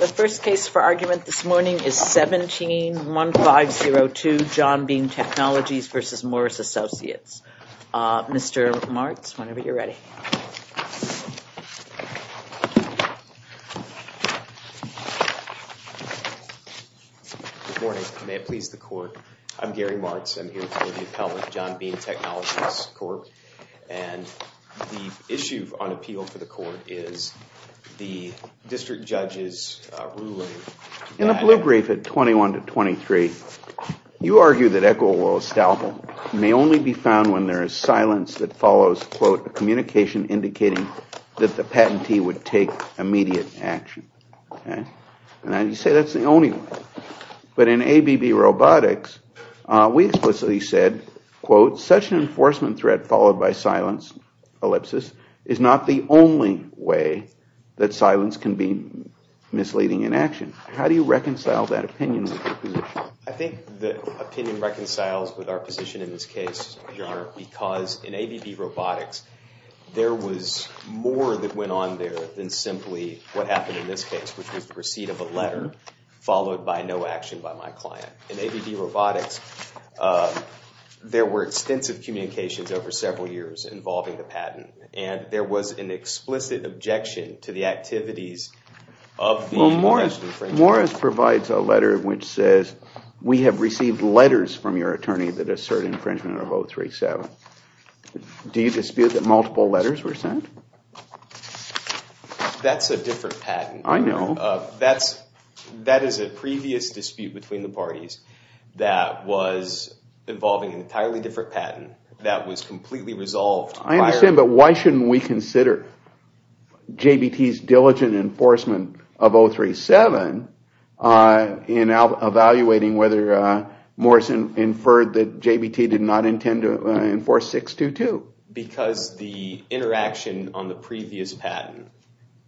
The first case for argument this morning is 17-1502 John Bean Technologies v. Morris & Associates. Mr. Martz, whenever you're ready. Good morning. May it please the court. I'm Gary Martz. I'm here to be the appellant of John Bean Technologies Corp. And the issue on appeal for the court is the district judge's ruling. In the blue brief at 21-23, you argue that Echol oil estalbul may only be found when there is silence that follows, quote, a communication indicating that the patentee would take immediate action. And you say that's the only way. But in ABB Robotics, we explicitly said, quote, such an enforcement threat followed by silence, ellipsis, is not the only way that silence can be misleading in action. How do you reconcile that opinion with your position? I think the opinion reconciles with our position in this case, Your Honor, because in ABB Robotics, there was more that went on there than simply what happened in this case, which was the receipt of a letter followed by no action by my client. In ABB Robotics, there were extensive communications over several years involving the patent, and there was an explicit objection to the activities of the alleged infringer. Morris provides a letter which says, we have received letters from your attorney that assert infringement of 037. Do you dispute that multiple letters were sent? That's a different patent. I know. That is a previous dispute between the parties that was involving an entirely different patent that was completely resolved. I understand, but why shouldn't we consider JBT's diligent enforcement of 037 in evaluating whether Morris inferred that JBT did not intend to enforce 622? Because the interaction on the previous patent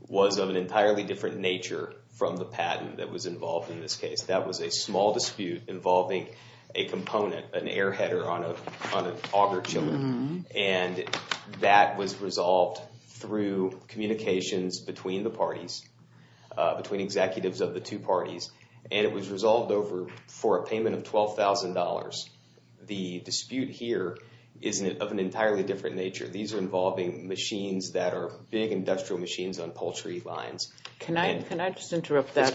was of an entirely different nature from the patent that was involved in this case. That was a small dispute involving a component, an air header on an auger chiller, and that was resolved through communications between the parties, between executives of the two parties, and it was resolved over for a payment of $12,000. The dispute here is of an entirely different nature. These are involving machines that are big industrial machines on poultry lines. Can I just interrupt that?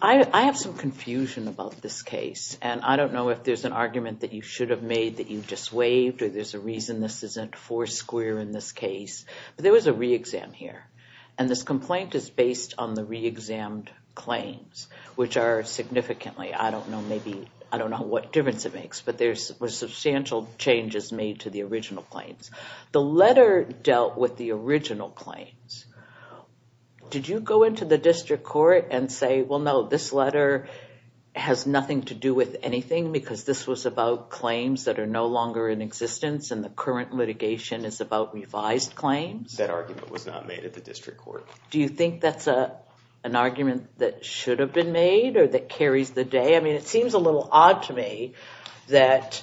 I have some confusion about this case, and I don't know if there's an argument that you should have made that you've just waived or there's a reason this isn't four square in this case, but there was a re-exam here, and this complaint is based on the re-exammed claims, which are significantly, I don't know maybe, I don't know what difference it makes, but there were substantial changes made to the original claims. The letter dealt with the original claims. Did you go into the district court and say, well, no, this letter has nothing to do with anything because this was about claims that are no longer in existence and the current litigation is about revised claims? That argument was not made at the district court. Do you think that's an argument that should have been made or that carries the day? I mean, it seems a little odd to me that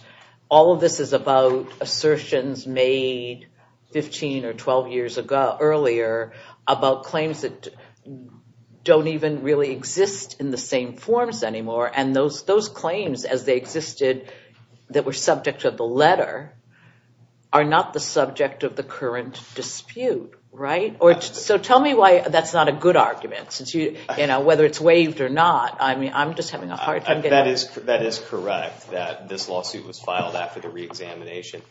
all of this is about assertions made 15 or 12 years ago, earlier, about claims that don't even really exist in the same forms anymore, and those claims as they existed that were subject to the letter are not the subject of the current dispute, right? So tell me why that's not a good argument, whether it's waived or not. That is correct that this lawsuit was filed after the re-examination.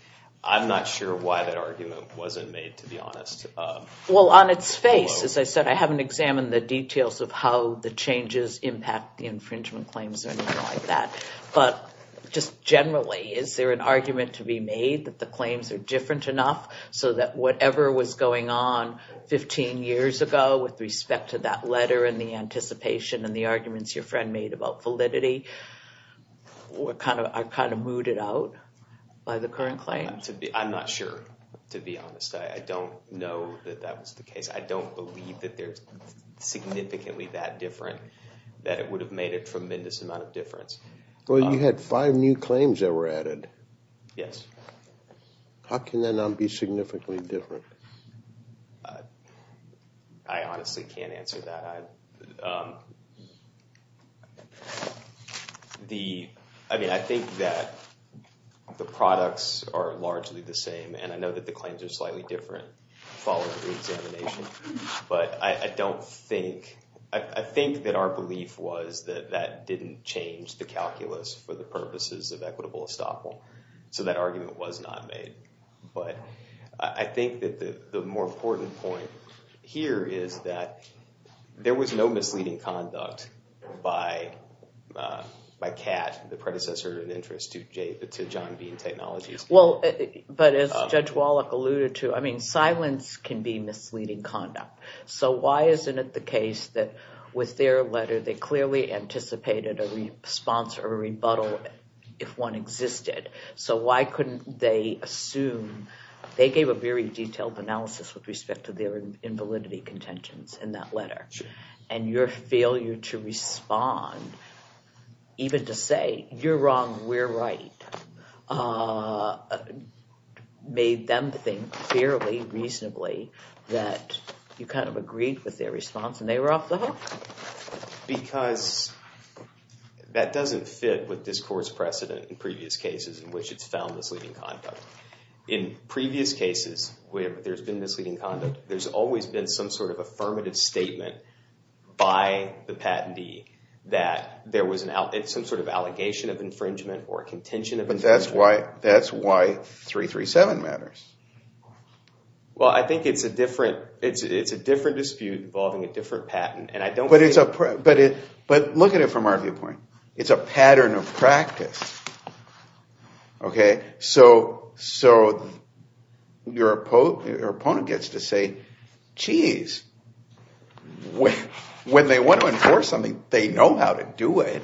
I'm not sure why that argument wasn't made, to be honest. Well, on its face, as I said, I haven't examined the details of how the changes impact the infringement claims or anything like that. But just generally, is there an argument to be made that the claims are different enough so that whatever was going on 15 years ago with respect to that letter and the anticipation and the arguments your friend made about validity are kind of mooted out by the current claim? I'm not sure, to be honest. I don't know that that was the case. I don't believe that they're significantly that different, that it would have made a tremendous amount of difference. Well, you had five new claims that were added. Yes. How can that not be significantly different? I honestly can't answer that. I mean, I think that the products are largely the same, and I know that the claims are slightly different following the re-examination. But I don't think, I think that our belief was that that didn't change the calculus for the purposes of equitable estoppel. So that argument was not made. But I think that the more important point here is that there was no misleading conduct by CAT, the predecessor in interest to John Bean Technologies. Well, but as Judge Wallach alluded to, I mean, silence can be misleading conduct. So why isn't it the case that with their letter, they clearly anticipated a response or a rebuttal if one existed? So why couldn't they assume, they gave a very detailed analysis with respect to their invalidity contentions in that letter. And your failure to respond, even to say, you're wrong, we're right, made them think fairly reasonably that you kind of agreed with their response and they were off the hook. Because that doesn't fit with this court's precedent in previous cases in which it's found misleading conduct. In previous cases where there's been misleading conduct, there's always been some sort of affirmative statement by the patentee that there was some sort of allegation of infringement or contention of infringement. But that's why 337 matters. Well, I think it's a different dispute involving a different patent. But look at it from our viewpoint. It's a pattern of practice. Okay, so your opponent gets to say, geez, when they want to enforce something, they know how to do it.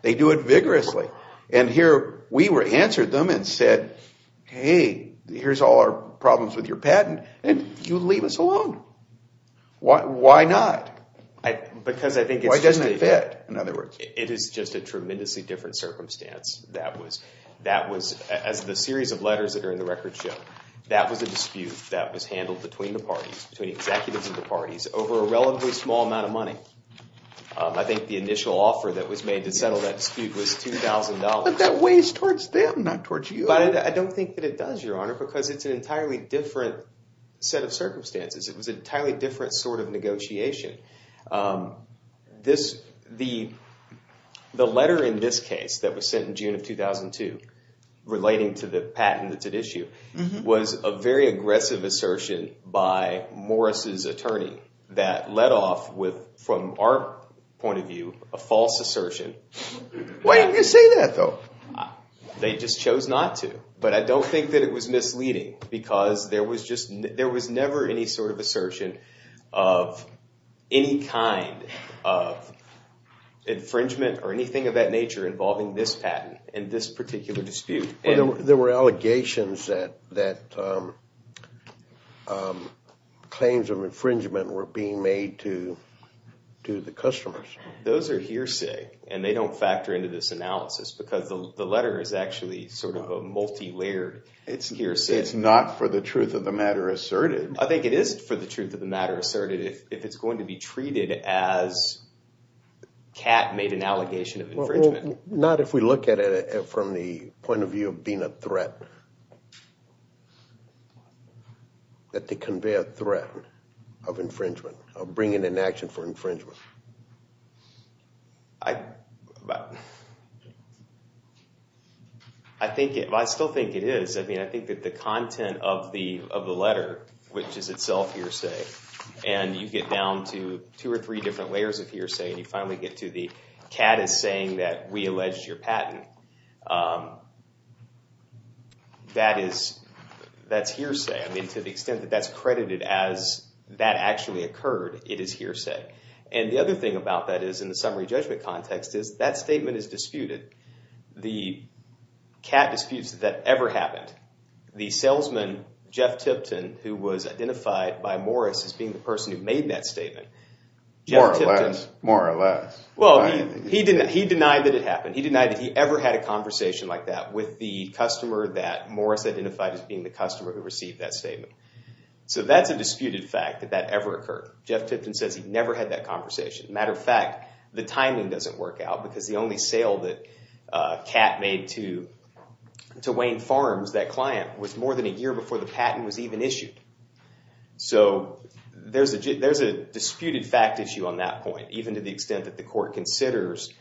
They do it vigorously. And here we answered them and said, hey, here's all our problems with your patent and you leave us alone. Why not? It is just a tremendously different circumstance. That was, as the series of letters that are in the record show, that was a dispute that was handled between the parties, between executives of the parties, over a relatively small amount of money. I think the initial offer that was made to settle that dispute was $2,000. But that weighs towards them, not towards you. But I don't think that it does, Your Honor, because it's an entirely different set of circumstances. It was an entirely different sort of negotiation. The letter in this case that was sent in June of 2002 relating to the patent that's at issue was a very aggressive assertion by Morris' attorney that led off with, from our point of view, a false assertion. Why did you say that, though? They just chose not to. But I don't think that it was misleading because there was never any sort of assertion of any kind of infringement or anything of that nature involving this patent in this particular dispute. There were allegations that claims of infringement were being made to the customers. Those are hearsay, and they don't factor into this analysis because the letter is actually sort of a multilayered hearsay. It's not for the truth of the matter asserted. I think it is for the truth of the matter asserted if it's going to be treated as Kat made an allegation of infringement. Not if we look at it from the point of view of being a threat, that they convey a threat of infringement, of bringing an action for infringement. I still think it is. I think that the content of the letter, which is itself hearsay, and you get down to two or three different layers of hearsay, and you finally get to the Kat is saying that we alleged your patent, that's hearsay. I mean, to the extent that that's credited as that actually occurred, it is hearsay. And the other thing about that is, in the summary judgment context, is that statement is disputed. The Kat disputes that that ever happened. The salesman, Jeff Tipton, who was identified by Morris as being the person who made that statement. More or less. Well, he denied that it happened. He denied that he ever had a conversation like that with the customer that Morris identified as being the customer who received that statement. So that's a disputed fact that that ever occurred. Jeff Tipton says he never had that conversation. Matter of fact, the timing doesn't work out, because the only sale that Kat made to Wayne Farms, that client, was more than a year before the patent was even issued. So there's a disputed fact issue on that point, even to the extent that the court considers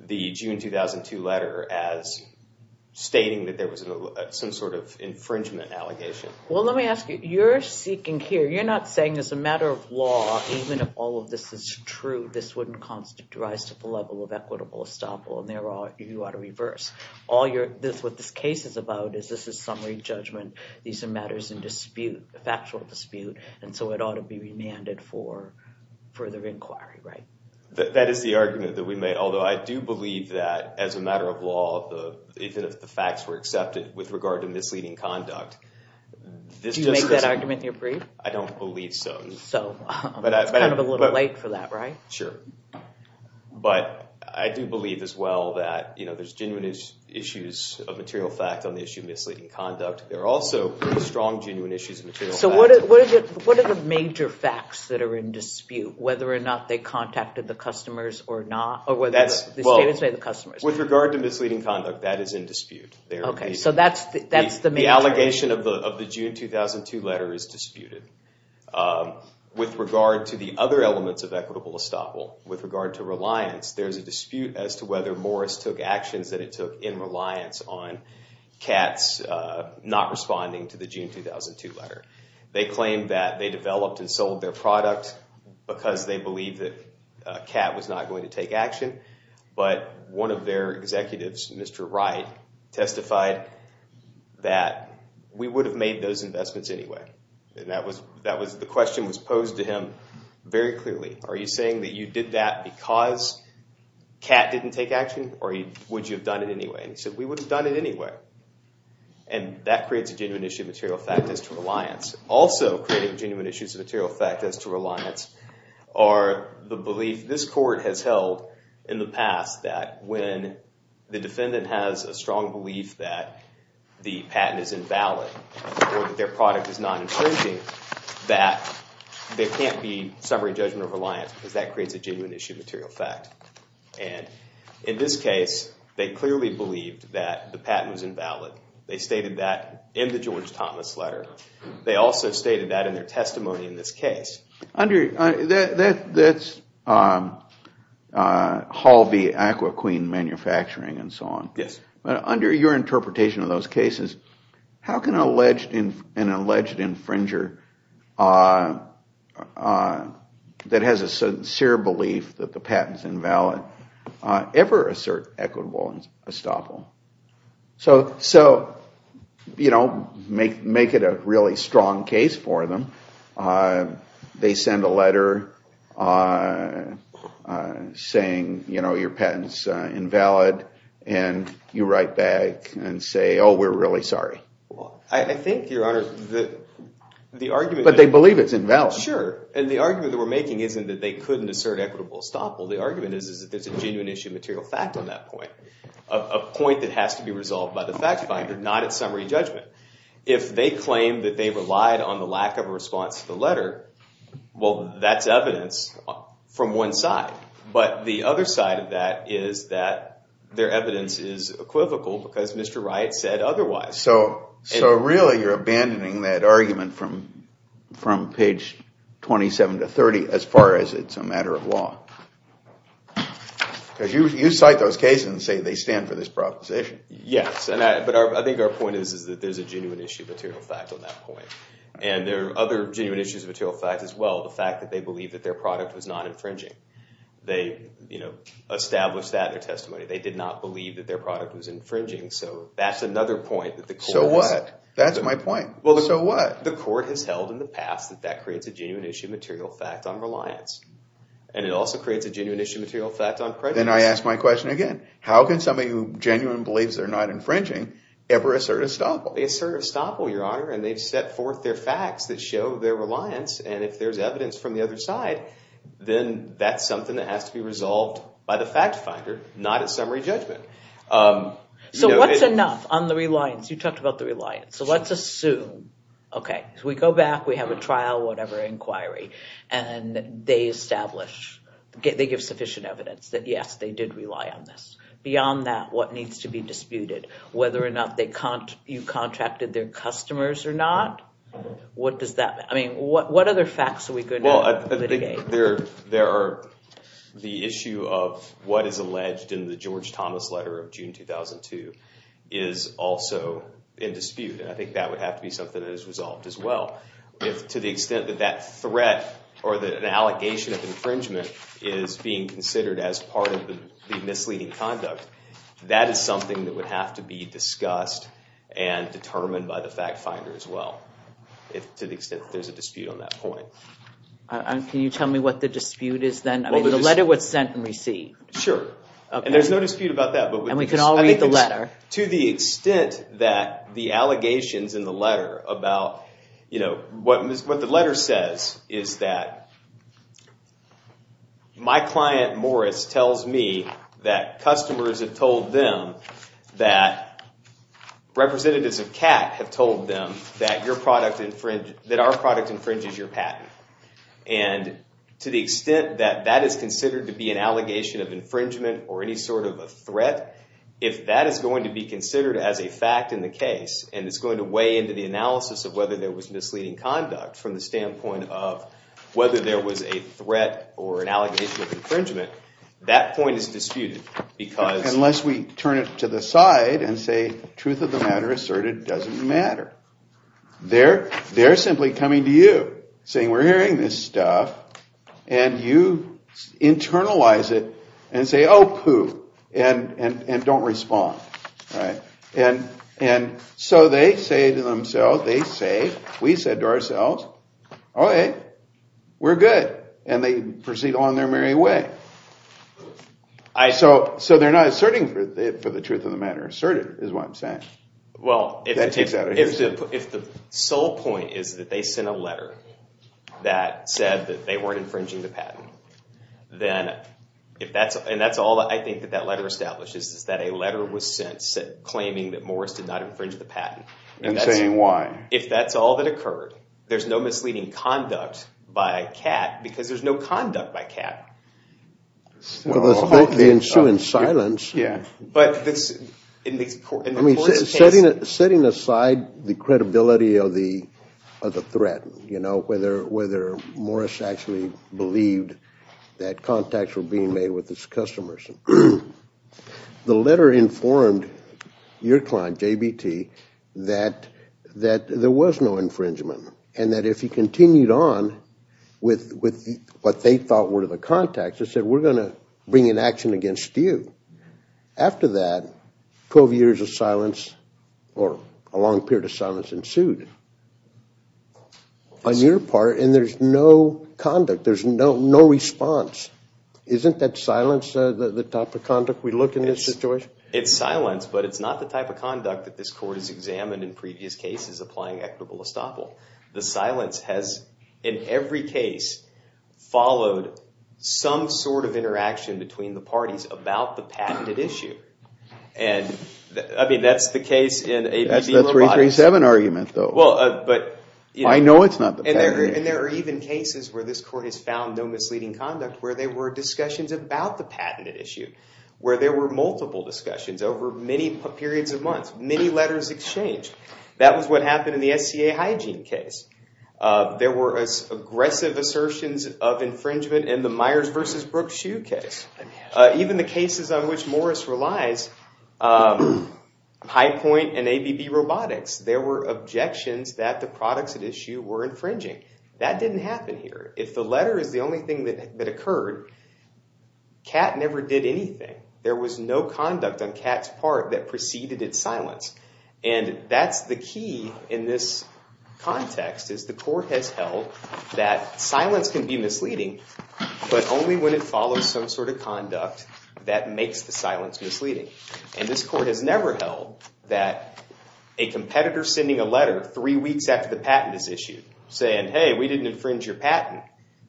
the June 2002 letter as stating that there was some sort of infringement allegation. Well, let me ask you, you're seeking here, you're not saying as a matter of law, even if all of this is true, this wouldn't constitute rise to the level of equitable estoppel. And there are you ought to reverse all your this. What this case is about is this is summary judgment. These are matters in dispute, factual dispute. And so it ought to be remanded for further inquiry. That is the argument that we made. Although I do believe that as a matter of law, even if the facts were accepted with regard to misleading conduct. Did you make that argument in your brief? I don't believe so. So it's kind of a little late for that, right? Sure. But I do believe as well that, you know, there's genuine issues of material fact on the issue of misleading conduct. There are also pretty strong genuine issues of material fact. So what are the major facts that are in dispute, whether or not they contacted the customers or not? Or whether the statements by the customers. With regard to misleading conduct, that is in dispute. Okay. So that's the main. The allegation of the June 2002 letter is disputed. With regard to the other elements of equitable estoppel, with regard to reliance, there's a dispute as to whether Morris took actions that it took in reliance on Katz not responding to the June 2002 letter. They claimed that they developed and sold their product because they believed that Katz was not going to take action. But one of their executives, Mr. Wright, testified that we would have made those investments anyway. And that was – the question was posed to him very clearly. Are you saying that you did that because Katz didn't take action? Or would you have done it anyway? And he said we would have done it anyway. And that creates a genuine issue of material fact as to reliance. Also creating genuine issues of material fact as to reliance are the belief this court has held in the past that when the defendant has a strong belief that the patent is invalid or that their product is not infringing, that there can't be summary judgment of reliance because that creates a genuine issue of material fact. And in this case, they clearly believed that the patent was invalid. They stated that in the George Thomas letter. They also stated that in their testimony in this case. That's Hall v. Aqua Queen Manufacturing and so on. But under your interpretation of those cases, how can an alleged infringer that has a sincere belief that the patent is invalid ever assert equitable estoppel? So make it a really strong case for them. They send a letter saying your patent is invalid. And you write back and say, oh, we're really sorry. I think, Your Honor, the argument – But they believe it's invalid. Sure, and the argument that we're making isn't that they couldn't assert equitable estoppel. The argument is that there's a genuine issue of material fact on that point. A point that has to be resolved by the fact finder, not its summary judgment. If they claim that they relied on the lack of a response to the letter, well, that's evidence from one side. But the other side of that is that their evidence is equivocal because Mr. Wright said otherwise. So really you're abandoning that argument from page 27 to 30 as far as it's a matter of law. Because you cite those cases and say they stand for this proposition. Yes, but I think our point is that there's a genuine issue of material fact on that point. And there are other genuine issues of material fact as well. The fact that they believe that their product was not infringing. They established that in their testimony. They did not believe that their product was infringing. So that's another point. So what? That's my point. So what? The court has held in the past that that creates a genuine issue of material fact on reliance. And it also creates a genuine issue of material fact on prejudice. Then I ask my question again. How can somebody who genuinely believes they're not infringing ever assert estoppel? They assert estoppel, Your Honor. And they've set forth their facts that show their reliance. And if there's evidence from the other side, then that's something that has to be resolved by the fact finder, not its summary judgment. So what's enough on the reliance? You talked about the reliance. So let's assume, okay, we go back, we have a trial, whatever, inquiry. And they establish, they give sufficient evidence that, yes, they did rely on this. Beyond that, what needs to be disputed? Whether or not you contracted their customers or not? What does that mean? I mean, what other facts are we going to mitigate? The issue of what is alleged in the George Thomas letter of June 2002 is also in dispute. And I think that would have to be something that is resolved as well. To the extent that that threat or that an allegation of infringement is being considered as part of the misleading conduct, that is something that would have to be discussed and determined by the fact finder as well, to the extent that there's a dispute on that point. Can you tell me what the dispute is then? I mean, the letter was sent and received. Sure. And there's no dispute about that. And we can all read the letter. To the extent that the allegations in the letter about, you know, what the letter says is that, my client, Morris, tells me that customers have told them that, representatives of CAC have told them that our product infringes your patent. And to the extent that that is considered to be an allegation of infringement or any sort of a threat, if that is going to be considered as a fact in the case, and it's going to weigh into the analysis of whether there was misleading conduct from the standpoint of whether there was a threat or an allegation of infringement, that point is disputed. Unless we turn it to the side and say, truth of the matter asserted doesn't matter. They're simply coming to you, saying we're hearing this stuff, and you internalize it and say, oh, poo, and don't respond. And so they say to themselves, they say, we said to ourselves, oh, hey, we're good. And they proceed along their merry way. So they're not asserting for the truth of the matter. Asserted is what I'm saying. Well, if the sole point is that they sent a letter that said that they weren't infringing the patent, and that's all I think that that letter establishes, is that a letter was sent claiming that Morris did not infringe the patent. And saying why. If that's all that occurred, there's no misleading conduct by Catt, because there's no conduct by Catt. Well, they ensue in silence. Yeah. Setting aside the credibility of the threat, whether Morris actually believed that contacts were being made with his customers, the letter informed your client, JBT, that there was no infringement, and that if he continued on with what they thought were the contacts, they said, we're going to bring an action against you. After that, 12 years of silence, or a long period of silence ensued on your part, and there's no conduct, there's no response. Isn't that silence the type of conduct we look in this situation? It's silence, but it's not the type of conduct that this court has examined in previous cases applying equitable estoppel. The silence has, in every case, followed some sort of interaction between the parties about the patented issue. I mean, that's the case in ABB Robotics. That's the 337 argument, though. I know it's not the patent. And there are even cases where this court has found no misleading conduct, where there were discussions about the patented issue. Where there were multiple discussions over many periods of months. Many letters exchanged. That was what happened in the SCA hygiene case. There were aggressive assertions of infringement in the Myers v. Brooks shoe case. Even the cases on which Morris relies, High Point and ABB Robotics, there were objections that the products at issue were infringing. That didn't happen here. If the letter is the only thing that occurred, CAT never did anything. There was no conduct on CAT's part that preceded its silence. And that's the key in this context, is the court has held that silence can be misleading, but only when it follows some sort of conduct that makes the silence misleading. And this court has never held that a competitor sending a letter three weeks after the patent is issued, saying, hey, we didn't infringe your patent,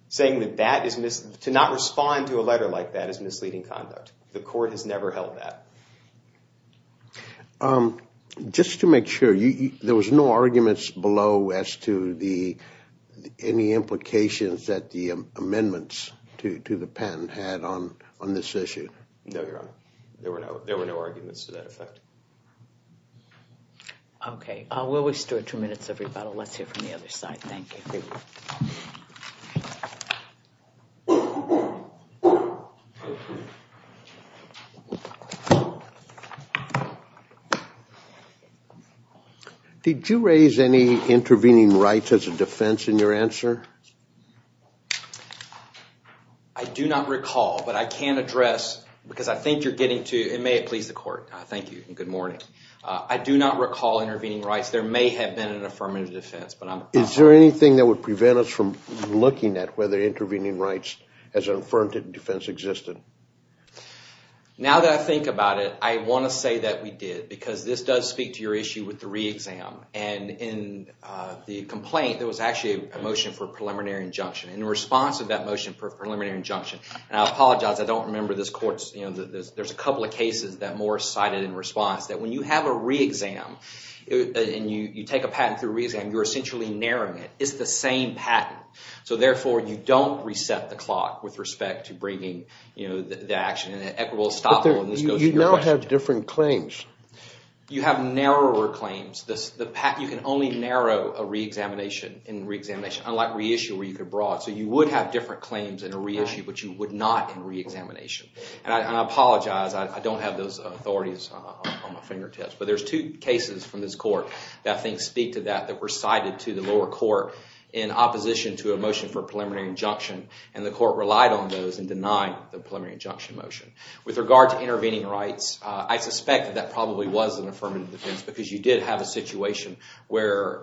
saying that to not respond to a letter like that is misleading conduct. The court has never held that. Just to make sure, there was no arguments below as to any implications that the amendments to the patent had on this issue? No, Your Honor. There were no arguments to that effect. Okay. We'll restore two minutes, everybody. Let's hear from the other side. Thank you. Thank you. Thank you. Did you raise any intervening rights as a defense in your answer? I do not recall, but I can address, because I think you're getting to it. May it please the court. Thank you, and good morning. I do not recall intervening rights. Is there anything that would prevent us from looking at whether intervening rights as an affirmative defense existed? Now that I think about it, I want to say that we did, because this does speak to your issue with the re-exam. And in the complaint, there was actually a motion for a preliminary injunction. In response to that motion for a preliminary injunction, and I apologize, I don't remember this court's, there's a couple of cases that Morris cited in response, that when you have a re-exam, and you take a patent through a re-exam, you're essentially narrowing it. It's the same patent. So therefore, you don't reset the clock with respect to bringing the action, and it will stop when this goes to your question. But you now have different claims. You have narrower claims. You can only narrow a re-examination in re-examination, unlike re-issue where you could broad. So you would have different claims in a re-issue, but you would not in re-examination. And I apologize, I don't have those authorities on my fingertips. But there's two cases from this court that I think speak to that, that were cited to the lower court in opposition to a motion for a preliminary injunction. And the court relied on those and denied the preliminary injunction motion. With regard to intervening rights, I suspect that that probably was an affirmative defense, because you did have a situation where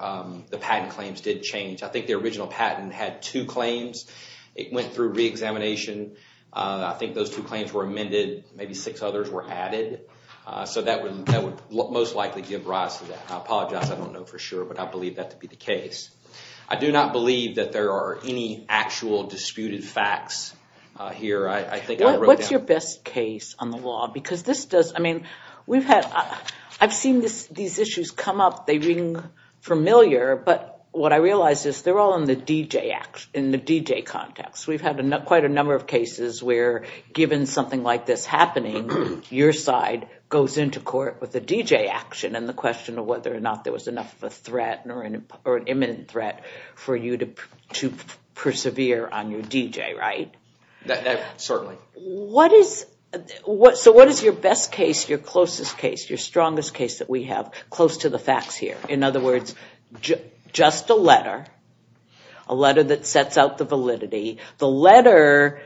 the patent claims did change. I think the original patent had two claims. It went through re-examination. I think those two claims were amended. Maybe six others were added. So that would most likely give rise to that. I apologize, I don't know for sure, but I believe that to be the case. I do not believe that there are any actual disputed facts here. What's your best case on the law? Because this does, I mean, we've had, I've seen these issues come up. They ring familiar, but what I realize is they're all in the DJ context. We've had quite a number of cases where, given something like this happening, your side goes into court with a DJ action, and the question of whether or not there was enough of a threat or an imminent threat for you to persevere on your DJ, right? Certainly. So what is your best case, your closest case, your strongest case that we have, close to the facts here? In other words, just a letter, a letter that sets out the validity. The letter,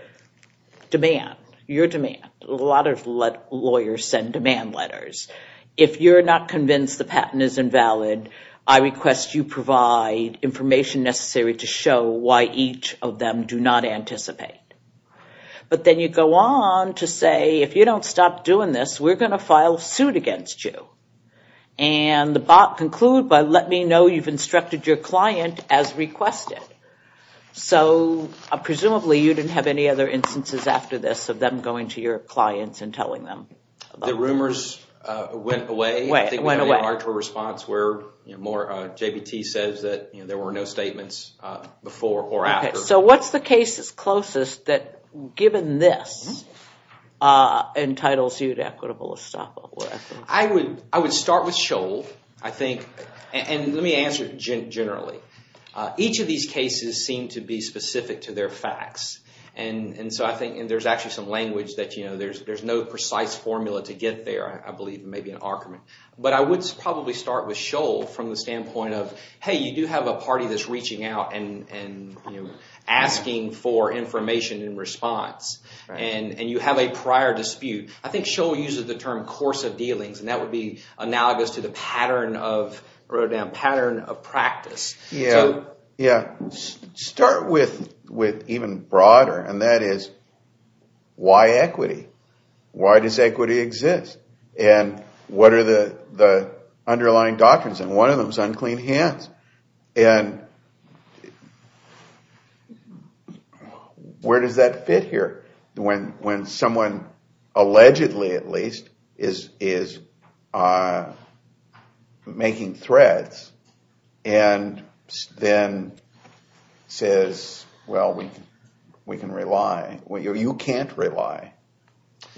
demand, your demand. A lot of lawyers send demand letters. If you're not convinced the patent is invalid, I request you provide information necessary to show why each of them do not anticipate. But then you go on to say, if you don't stop doing this, we're going to file suit against you. And the bot concludes by, let me know you've instructed your client as requested. So presumably you didn't have any other instances after this of them going to your clients and telling them about this. The rumors went away. Went away. I think we had an impartial response where more, JBT says that there were no statements before or after. So what's the case that's closest that, given this, entitles you to equitable estoppel? I would start with Scholl, I think. And let me answer generally. Each of these cases seem to be specific to their facts. And so I think there's actually some language that, you know, there's no precise formula to get there, I believe, maybe an argument. But I would probably start with Scholl from the standpoint of, hey, you do have a party that's reaching out and asking for information in response. And you have a prior dispute. I think Scholl uses the term course of dealings, and that would be analogous to the pattern of practice. Yeah. Start with even broader, and that is why equity? Why does equity exist? And what are the underlying doctrines? And one of them is unclean hands. And where does that fit here? When someone, allegedly at least, is making threats and then says, well, we can rely. Well, you can't rely.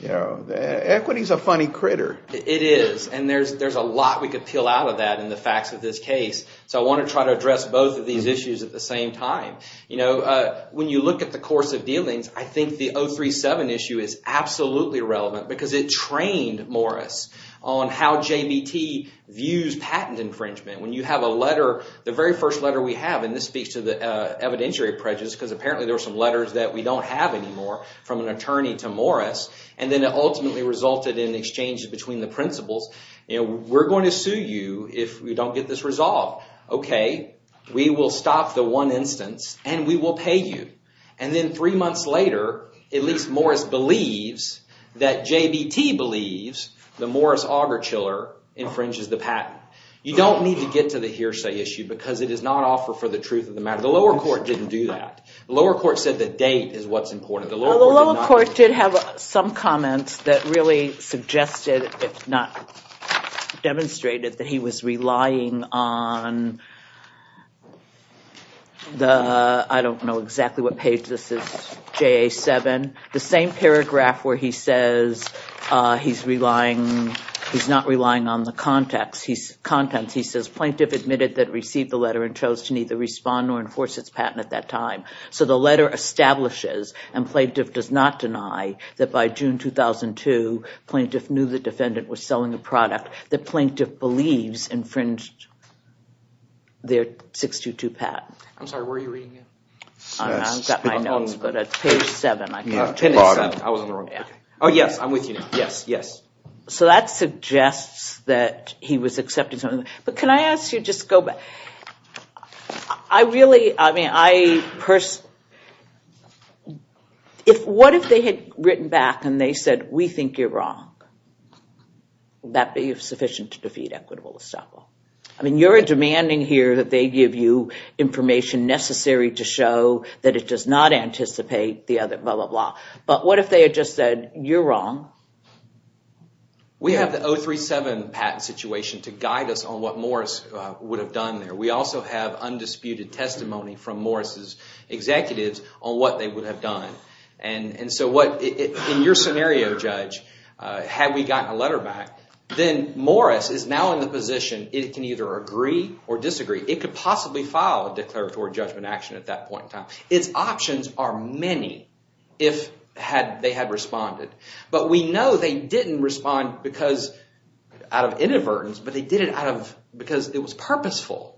Equity is a funny critter. It is, and there's a lot we could peel out of that in the facts of this case. So I want to try to address both of these issues at the same time. When you look at the course of dealings, I think the 037 issue is absolutely relevant because it trained Morris on how JBT views patent infringement. When you have a letter, the very first letter we have, and this speaks to the evidentiary prejudice because apparently there were some letters that we don't have anymore from an attorney to Morris, and then it ultimately resulted in exchanges between the principals. We're going to sue you if we don't get this resolved. Okay, we will stop the one instance, and we will pay you. And then three months later, at least Morris believes that JBT believes that Morris Augerchiller infringes the patent. You don't need to get to the hearsay issue because it does not offer for the truth of the matter. The lower court didn't do that. The lower court said the date is what's important. The lower court did have some comments that really suggested, if not demonstrated, that he was relying on the, I don't know exactly what page this is, JA7, the same paragraph where he says he's relying, he's not relying on the contents. He says plaintiff admitted that received the letter and chose to neither respond nor enforce its patent at that time. So the letter establishes, and plaintiff does not deny, that by June 2002, plaintiff knew the defendant was selling a product that plaintiff believes infringed their 622 patent. I'm sorry, where are you reading it? I've got my notes, but it's page 7. I was on the wrong page. Oh, yes, I'm with you. Yes, yes. So that suggests that he was accepting something. But can I ask you just to go back? I really, I mean, I personally, what if they had written back and they said, we think you're wrong? Would that be sufficient to defeat equitable estoppel? I mean, you're demanding here that they give you information necessary to show that it does not anticipate the other, blah, blah, blah. But what if they had just said, you're wrong? We have the 037 patent situation to guide us on what Morris would have done there. We also have undisputed testimony from Morris' executives on what they would have done. And so what, in your scenario, Judge, had we gotten a letter back, then Morris is now in the position it can either agree or disagree. It could possibly file a declaratory judgment action at that point in time. Its options are many if they had responded. But we know they didn't respond because, out of inadvertence, but they did it out of, because it was purposeful.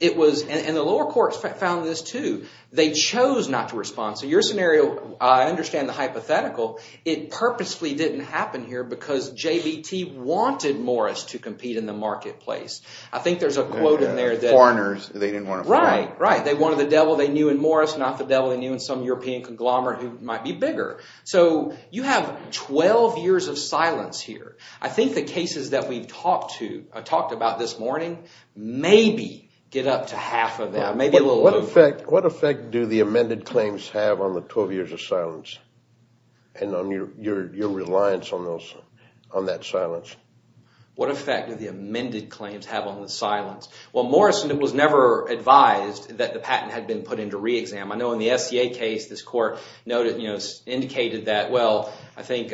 It was, and the lower courts found this too. They chose not to respond. So your scenario, I understand the hypothetical. It purposely didn't happen here because JBT wanted Morris to compete in the marketplace. I think there's a quote in there that… Foreigners, they didn't want to fight. Right, right. They wanted the devil they knew in Morris, not the devil they knew in some European conglomerate who might be bigger. So you have 12 years of silence here. I think the cases that we've talked about this morning maybe get up to half of that, maybe a little over. What effect do the amended claims have on the 12 years of silence? And on your reliance on that silence? What effect do the amended claims have on the silence? Well, Morris was never advised that the patent had been put into re-exam. I know in the SCA case, this court noted, indicated that, well, I think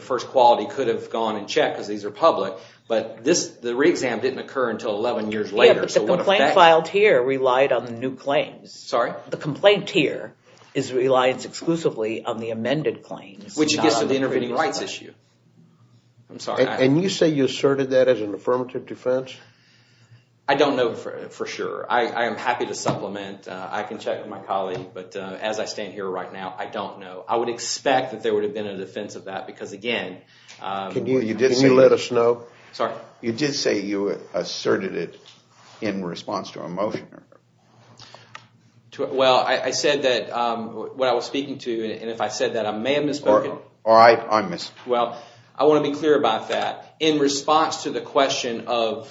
first quality could have gone in check because these are public. But the re-exam didn't occur until 11 years later. Yeah, but the complaint filed here relied on the new claims. Sorry? The complaint here is reliance exclusively on the amended claims. Which gets to the intervening rights issue. And you say you asserted that as an affirmative defense? I don't know for sure. I am happy to supplement. I can check with my colleague, but as I stand here right now, I don't know. I would expect that there would have been a defense of that because, again… Can you let us know? Sorry? You did say you asserted it in response to a motion. Well, I said that when I was speaking to you, and if I said that, I may have misspoken. Or I'm missing. Well, I want to be clear about that. In response to the question of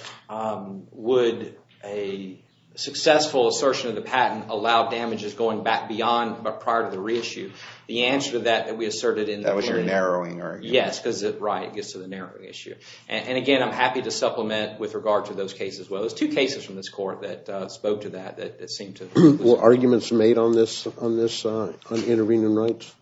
would a successful assertion of the patent allow damages going back beyond or prior to the re-issue, the answer to that we asserted in… That was your narrowing argument. Yes, because it gets to the narrowing issue. And again, I'm happy to supplement with regard to those cases. There's two cases from this court that spoke to that. Were arguments made on this on intervening rights?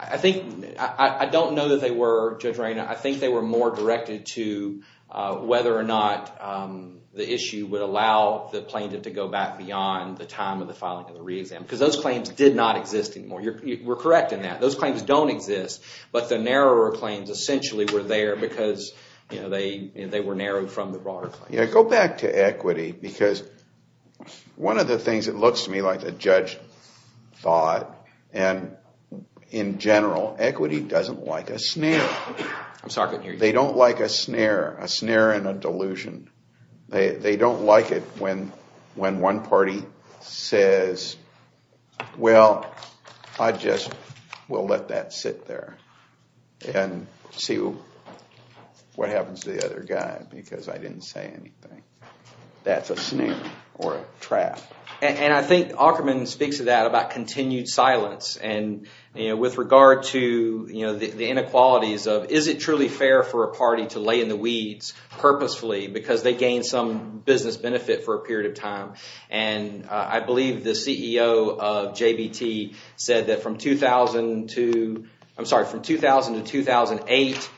I don't know that they were, Judge Reina. I think they were more directed to whether or not the issue would allow the plaintiff to go back beyond the time of the filing of the re-exam. Because those claims did not exist anymore. You were correct in that. Those claims don't exist, but the narrower claims essentially were there because they were narrowed from the broader claims. Yeah, go back to equity. Because one of the things that looks to me like a judge thought, and in general, equity doesn't like a snare. They don't like a snare, a snare and a delusion. They don't like it when one party says, well, I just will let that sit there and see what happens to the other guy because I didn't say anything. That's a snare or a trap. And I think Aukerman speaks to that about continued silence. And with regard to the inequalities of, is it truly fair for a party to lay in the weeds purposefully because they gain some business benefit for a period of time? And I believe the CEO of JBT said that from 2000 to, I'm sorry, from 2000 to 2008,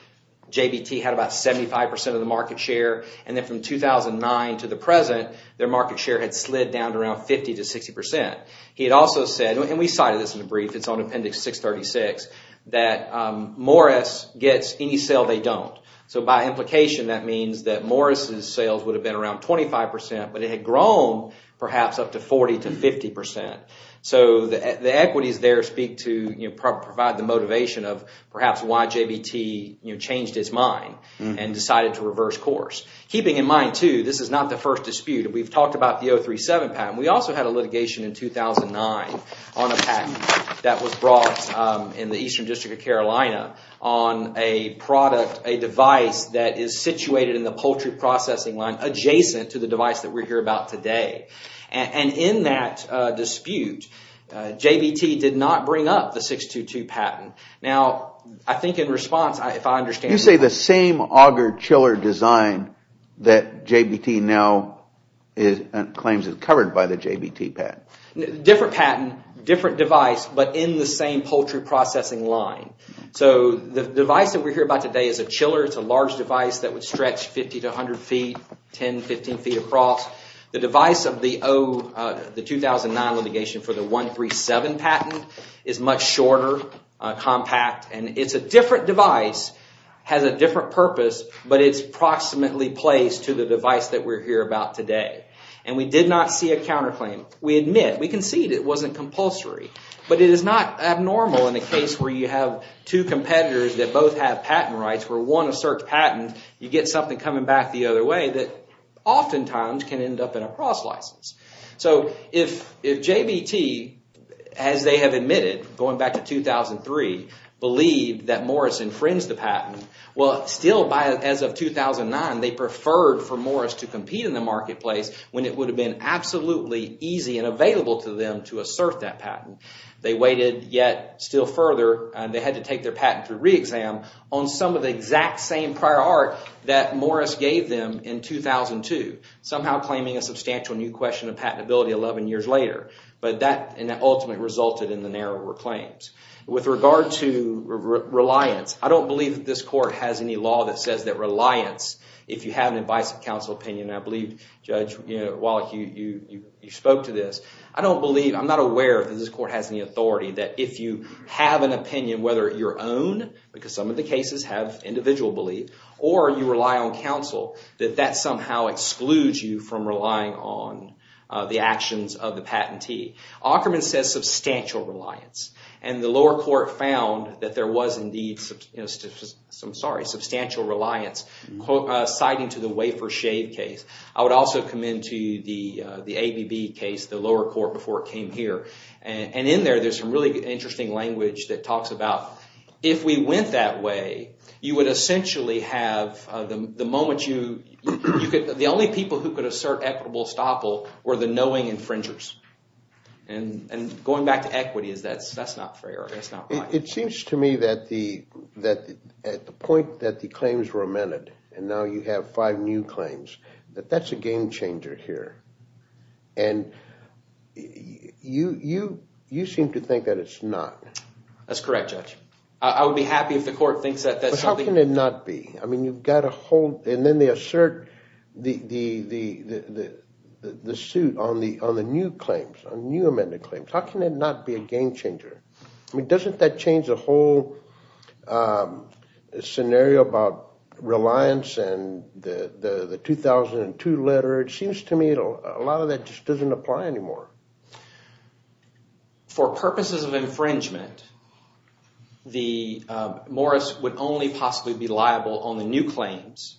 JBT had about 75% of the market share. And then from 2009 to the present, their market share had slid down to around 50 to 60%. He had also said, and we cited this in the brief, it's on appendix 636, that Morris gets any sale they don't. So by implication, that means that Morris's sales would have been around 25%, but it had grown perhaps up to 40 to 50%. So the equities there speak to, provide the motivation of perhaps why JBT changed its mind and decided to reverse course. Keeping in mind too, this is not the first dispute. We've talked about the 037 patent. We also had a litigation in 2009 on a patent that was brought in the Eastern District of Carolina on a product, a device that is situated in the poultry processing line adjacent to the device that we're here about today. And in that dispute, JBT did not bring up the 622 patent. Now, I think in response, if I understand. You say the same auger-chiller design that JBT now claims is covered by the JBT patent. Different patent, different device, but in the same poultry processing line. So the device that we're here about today is a chiller. It's a large device that would stretch 50 to 100 feet, 10, 15 feet across. The device of the 2009 litigation for the 137 patent is much shorter, compact. And it's a different device, has a different purpose, but it's approximately placed to the device that we're here about today. And we did not see a counterclaim. We admit, we concede it wasn't compulsory. But it is not abnormal in a case where you have two competitors that both have patent rights where one asserts patent, you get something coming back the other way that oftentimes can end up in a cross license. So if JBT, as they have admitted, going back to 2003, believed that Morris infringed the patent, well, still as of 2009, they preferred for Morris to compete in the marketplace when it would have been absolutely easy and available to them to assert that patent. They waited, yet still further, they had to take their patent through re-exam on some of the exact same prior art that Morris gave them in 2002, somehow claiming a substantial new question of patentability 11 years later. But that ultimately resulted in the narrower claims. With regard to reliance, I don't believe that this court has any law that says that reliance, if you have an advice of counsel opinion, I believe, Judge Wallach, you spoke to this. I don't believe, I'm not aware that this court has any authority that if you have an opinion, whether your own, because some of the cases have individual belief, or you rely on counsel, that that somehow excludes you from relying on the actions of the patentee. Ockerman says substantial reliance. And the lower court found that there was indeed substantial reliance, citing to the Wafer Shade case. I would also commend to you the ABB case, the lower court before it came here. And in there, there's some really interesting language that talks about, if we went that way, you would essentially have the moment you, the only people who could assert equitable estoppel were the knowing infringers. And going back to equity, that's not fair, that's not right. It seems to me that at the point that the claims were amended, and now you have five new claims, that that's a game changer here. And you seem to think that it's not. That's correct, Judge. I would be happy if the court thinks that that's something. But how can it not be? I mean, you've got a whole, and then they assert the suit on the new claims, on new amended claims, how can it not be a game changer? I mean, doesn't that change the whole scenario about reliance and the 2002 letter? It seems to me a lot of that just doesn't apply anymore. For purposes of infringement, Morris would only possibly be liable on the new claims,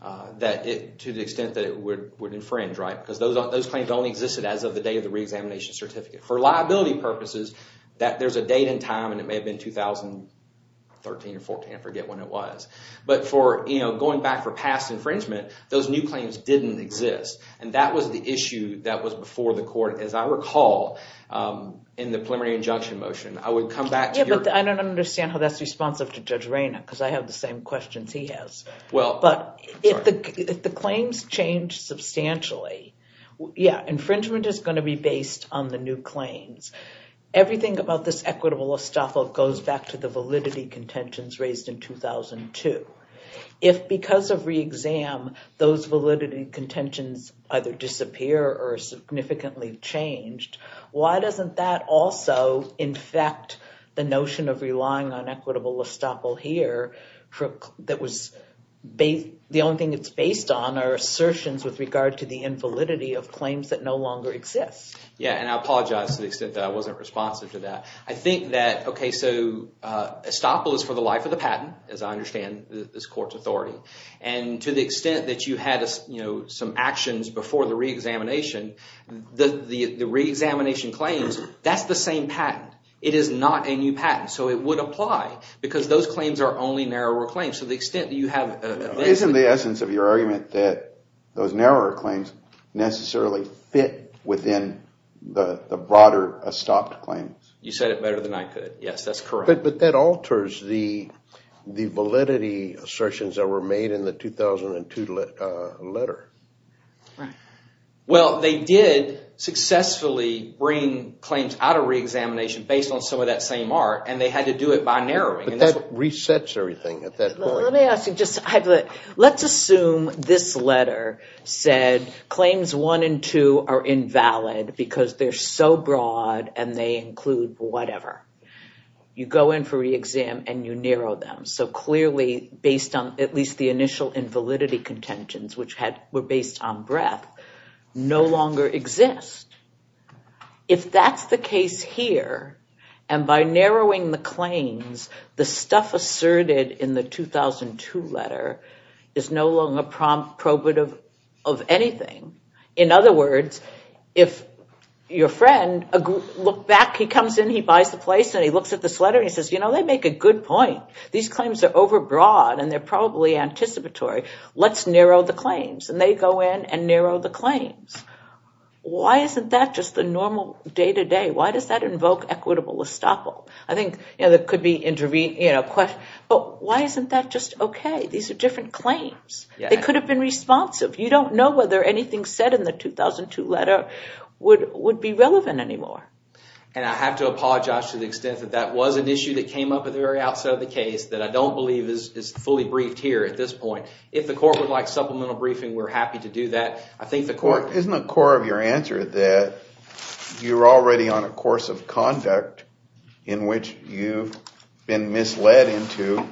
to the extent that it would infringe, right? Because those claims only existed as of the day of the reexamination certificate. For liability purposes, there's a date and time, and it may have been 2013 or 14, I forget when it was. But going back for past infringement, those new claims didn't exist. And that was the issue that was before the court, as I recall, in the preliminary injunction motion. I would come back to your- Yeah, but I don't understand how that's responsive to Judge Reyna, because I have the same questions he has. If the claims change substantially, yeah, infringement is going to be based on the new claims. Everything about this equitable estoppel goes back to the validity contentions raised in 2002. If, because of reexam, those validity contentions either disappear or are significantly changed, why doesn't that also infect the notion of relying on equitable estoppel here? The only thing it's based on are assertions with regard to the invalidity of claims that no longer exist. Yeah, and I apologize to the extent that I wasn't responsive to that. I think that, okay, so estoppel is for the life of the patent, as I understand this court's authority. And to the extent that you had some actions before the reexamination, the reexamination claims, that's the same patent. It is not a new patent, so it would apply, because those claims are only narrower claims. So the extent that you have- Isn't the essence of your argument that those narrower claims necessarily fit within the broader estoppel claims? You said it better than I could. Yes, that's correct. But that alters the validity assertions that were made in the 2002 letter. Right. Well, they did successfully bring claims out of reexamination based on some of that same art, and they had to do it by narrowing. But that resets everything at that point. Let me ask you just- Let's assume this letter said claims one and two are invalid because they're so broad and they include whatever. You go in for reexam and you narrow them. So clearly, based on at least the initial invalidity contentions, which were based on breadth, no longer exist. If that's the case here, and by narrowing the claims, the stuff asserted in the 2002 letter is no longer probative of anything. In other words, if your friend looked back, he comes in, he buys the place, and he looks at this letter and he says, you know, they make a good point. These claims are overbroad and they're probably anticipatory. Let's narrow the claims. And they go in and narrow the claims. Why isn't that just the normal day-to-day? Why does that invoke equitable estoppel? I think there could be- But why isn't that just okay? These are different claims. They could have been responsive. You don't know whether anything said in the 2002 letter would be relevant anymore. And I have to apologize to the extent that that was an issue that came up at the very outset of the case that I don't believe is fully briefed here at this point. If the court would like supplemental briefing, we're happy to do that. Isn't the core of your answer that you're already on a course of conduct in which you've been misled into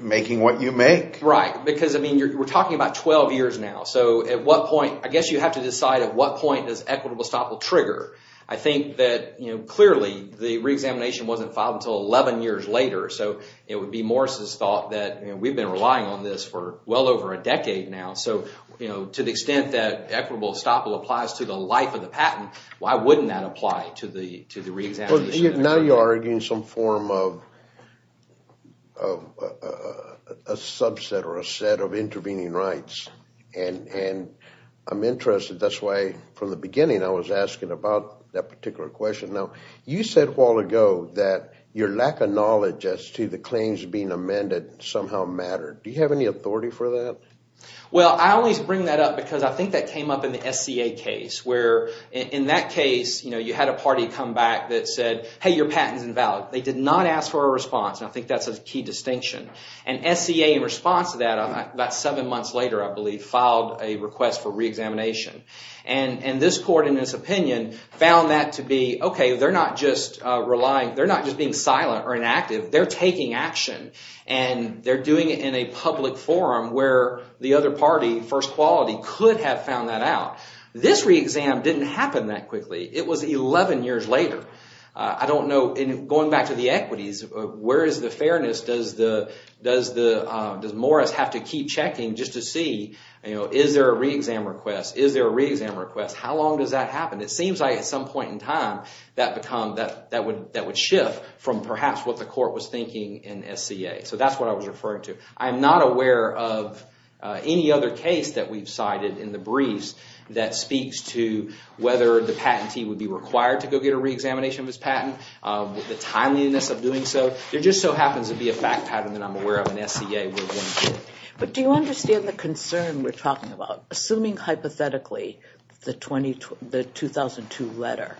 making what you make? Right, because we're talking about 12 years now. So at what point- I guess you have to decide at what point does equitable estoppel trigger? I think that clearly the reexamination wasn't filed until 11 years later. So it would be Morris's thought that we've been relying on this for well over a decade now. So to the extent that equitable estoppel applies to the life of the patent, why wouldn't that apply to the reexamination? Now you're arguing some form of a subset or a set of intervening rights. And I'm interested, that's why from the beginning I was asking about that particular question. Now, you said a while ago that your lack of knowledge as to the claims being amended somehow mattered. Do you have any authority for that? Well, I always bring that up because I think that came up in the SCA case, where in that case you had a party come back that said, hey, your patent is invalid. They did not ask for a response, and I think that's a key distinction. And SCA in response to that about seven months later, I believe, filed a request for reexamination. And this court in this opinion found that to be, okay, they're not just relying- they're not just being silent or inactive, they're taking action. And they're doing it in a public forum where the other party, first quality, could have found that out. This reexam didn't happen that quickly. It was 11 years later. I don't know, going back to the equities, where is the fairness? Does Morris have to keep checking just to see, you know, is there a reexam request? Is there a reexam request? How long does that happen? It seems like at some point in time that would shift from perhaps what the court was thinking in SCA. So that's what I was referring to. I'm not aware of any other case that we've cited in the briefs that speaks to whether the patentee would be required to go get a reexamination of his patent, the timeliness of doing so. There just so happens to be a fact pattern that I'm aware of in SCA. But do you understand the concern we're talking about? Assuming hypothetically the 2002 letter,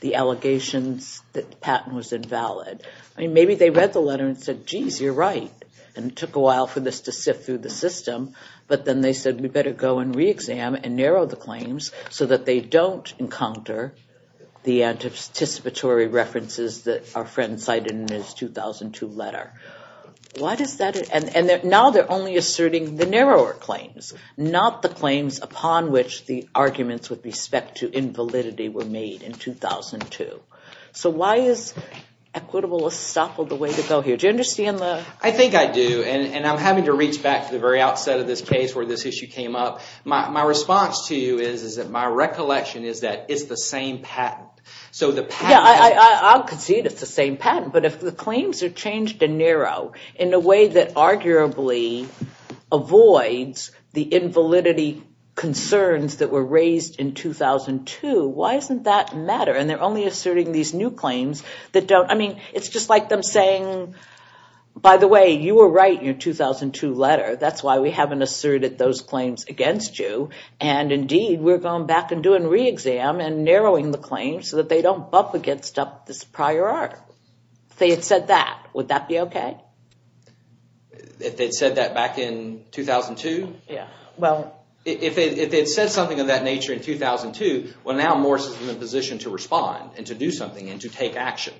the allegations that the patent was invalid, I mean, maybe they read the letter and said, geez, you're right, and it took a while for this to sift through the system, but then they said we better go and reexam and narrow the claims so that they don't encounter the anticipatory references that our friend cited in his 2002 letter. Why does that – and now they're only asserting the narrower claims, not the claims upon which the arguments with respect to invalidity were made in 2002. So why is equitable estoppel the way to go here? Do you understand the – I think I do, and I'm having to reach back to the very outset of this case where this issue came up. My response to you is that my recollection is that it's the same patent. Yeah, I'll concede it's the same patent, but if the claims are changed and narrowed in a way that arguably avoids the invalidity concerns that were raised in 2002, why doesn't that matter? And they're only asserting these new claims that don't – I mean, it's just like them saying, by the way, you were right in your 2002 letter. That's why we haven't asserted those claims against you, and indeed we're going back and doing reexam and narrowing the claims so that they don't bump against this prior art. If they had said that, would that be okay? If they'd said that back in 2002? Yeah. If they'd said something of that nature in 2002, well, now Morse is in a position to respond and to do something and to take action.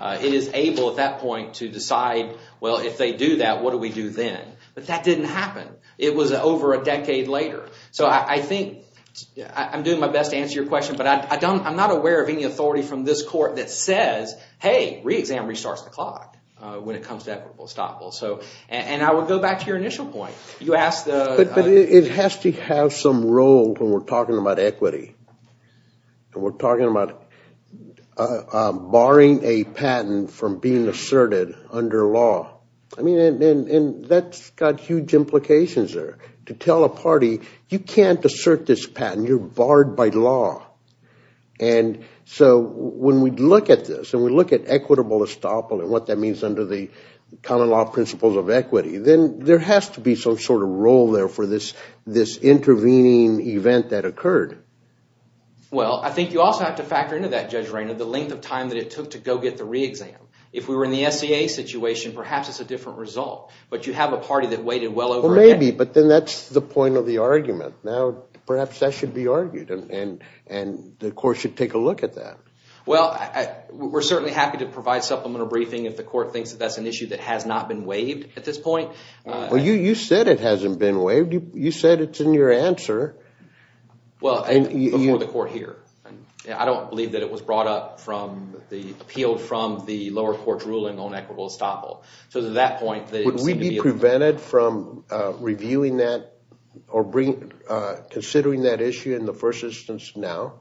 It is able at that point to decide, well, if they do that, what do we do then? But that didn't happen. It was over a decade later. So I think – I'm doing my best to answer your question, but I'm not aware of any authority from this court that says, hey, reexam restarts the clock when it comes to equitable estoppel. And I would go back to your initial point. But it has to have some role when we're talking about equity. We're talking about barring a patent from being asserted under law. And that's got huge implications there. To tell a party, you can't assert this patent. You're barred by law. And so when we look at this and we look at equitable estoppel and what that means under the common law principles of equity, then there has to be some sort of role there for this intervening event that occurred. Well, I think you also have to factor into that, Judge Rainer, the length of time that it took to go get the reexam. If we were in the SCA situation, perhaps it's a different result. But you have a party that waited well over a decade. Well, maybe, but then that's the point of the argument. Now, perhaps that should be argued, and the court should take a look at that. Well, we're certainly happy to provide supplemental briefing if the court thinks that that's an issue that has not been waived at this point. Well, you said it hasn't been waived. You said it's in your answer. Well, before the court here. I don't believe that it was brought up from the appeal from the lower court's ruling on equitable estoppel. Would we be prevented from reviewing that or considering that issue in the first instance now?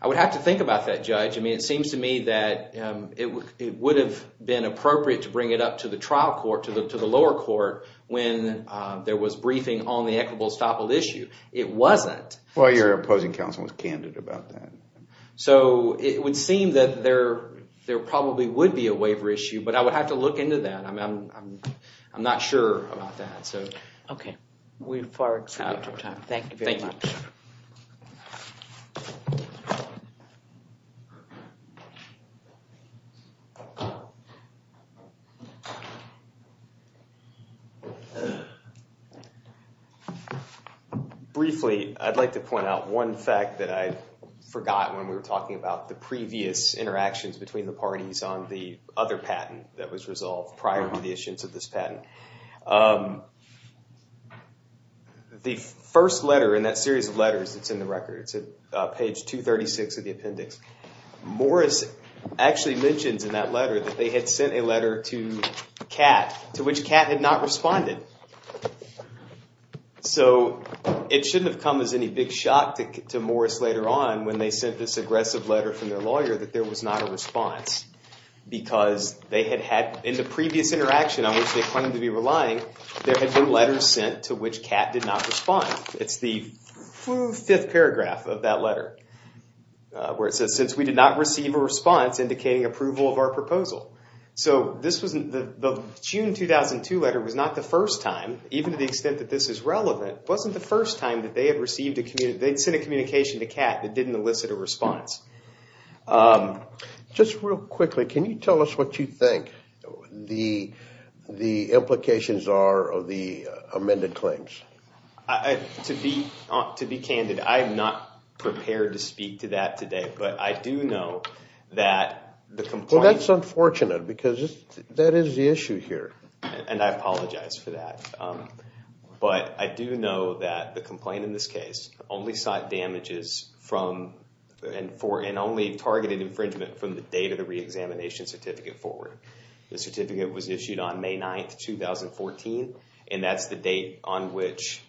I would have to think about that, Judge. I mean, it seems to me that it would have been appropriate to bring it up to the trial court, to the lower court, when there was briefing on the equitable estoppel issue. It wasn't. Well, your opposing counsel was candid about that. So it would seem that there probably would be a waiver issue, but I would have to look into that. I'm not sure about that. Okay. We've far exceeded our time. Thank you very much. Thank you. Thank you. Briefly, I'd like to point out one fact that I forgot when we were talking about the previous interactions between the parties on the other patent that was resolved prior to the issuance of this patent. The first letter in that series of letters that's in the record, it's at page 236 of the appendix, Morris actually mentions in that letter that they had sent a letter to Catt, to which Catt had not responded. So it shouldn't have come as any big shock to Morris later on when they sent this aggressive letter from their lawyer that there was not a response because they had had, in the previous interaction on which they claimed to be relying, there had been letters sent to which Catt did not respond. It's the fifth paragraph of that letter where it says, since we did not receive a response indicating approval of our proposal. So the June 2002 letter was not the first time, even to the extent that this is relevant, wasn't the first time that they had received a communication to Catt that didn't elicit a response. Just real quickly, can you tell us what you think the implications are of the amended claims? To be candid, I am not prepared to speak to that today, but I do know that the complaint- Well, that's unfortunate because that is the issue here. And I apologize for that. But I do know that the complaint in this case only sought damages from and only targeted infringement from the date of the reexamination certificate forward. The certificate was issued on May 9th, 2014, and that's the date on which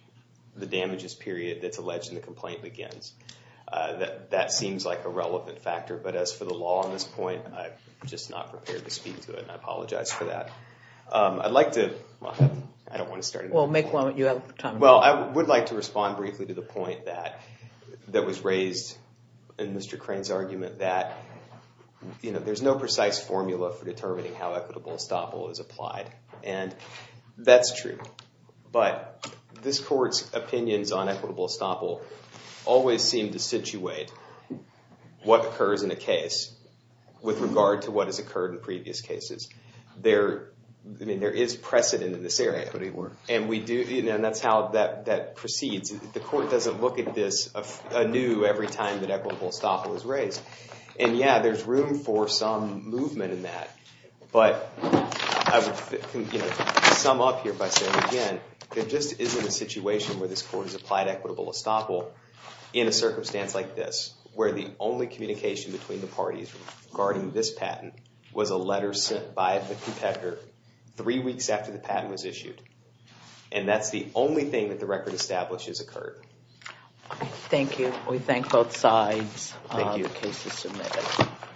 the damages period that's alleged in the complaint begins. That seems like a relevant factor, but as for the law on this point, I'm just not prepared to speak to it, and I apologize for that. I'd like to- I don't want to start- Well, make one when you have time. Well, I would like to respond briefly to the point that was raised in Mr. Crane's argument that there's no precise formula for determining how equitable estoppel is applied. And that's true. But this court's opinions on equitable estoppel always seem to situate what occurs in a case with regard to what has occurred in previous cases. There- I mean, there is precedent in this area. Equity works. And we do- and that's how that proceeds. The court doesn't look at this anew every time that equitable estoppel is raised. And yeah, there's room for some movement in that. But I would, you know, sum up here by saying, again, there just isn't a situation where this court has applied equitable estoppel in a circumstance like this, where the only communication between the parties regarding this patent was a letter sent by a competitor three weeks after the patent was issued. And that's the only thing that the record establishes occurred. Thank you. We thank both sides. Thank you. The case is submitted.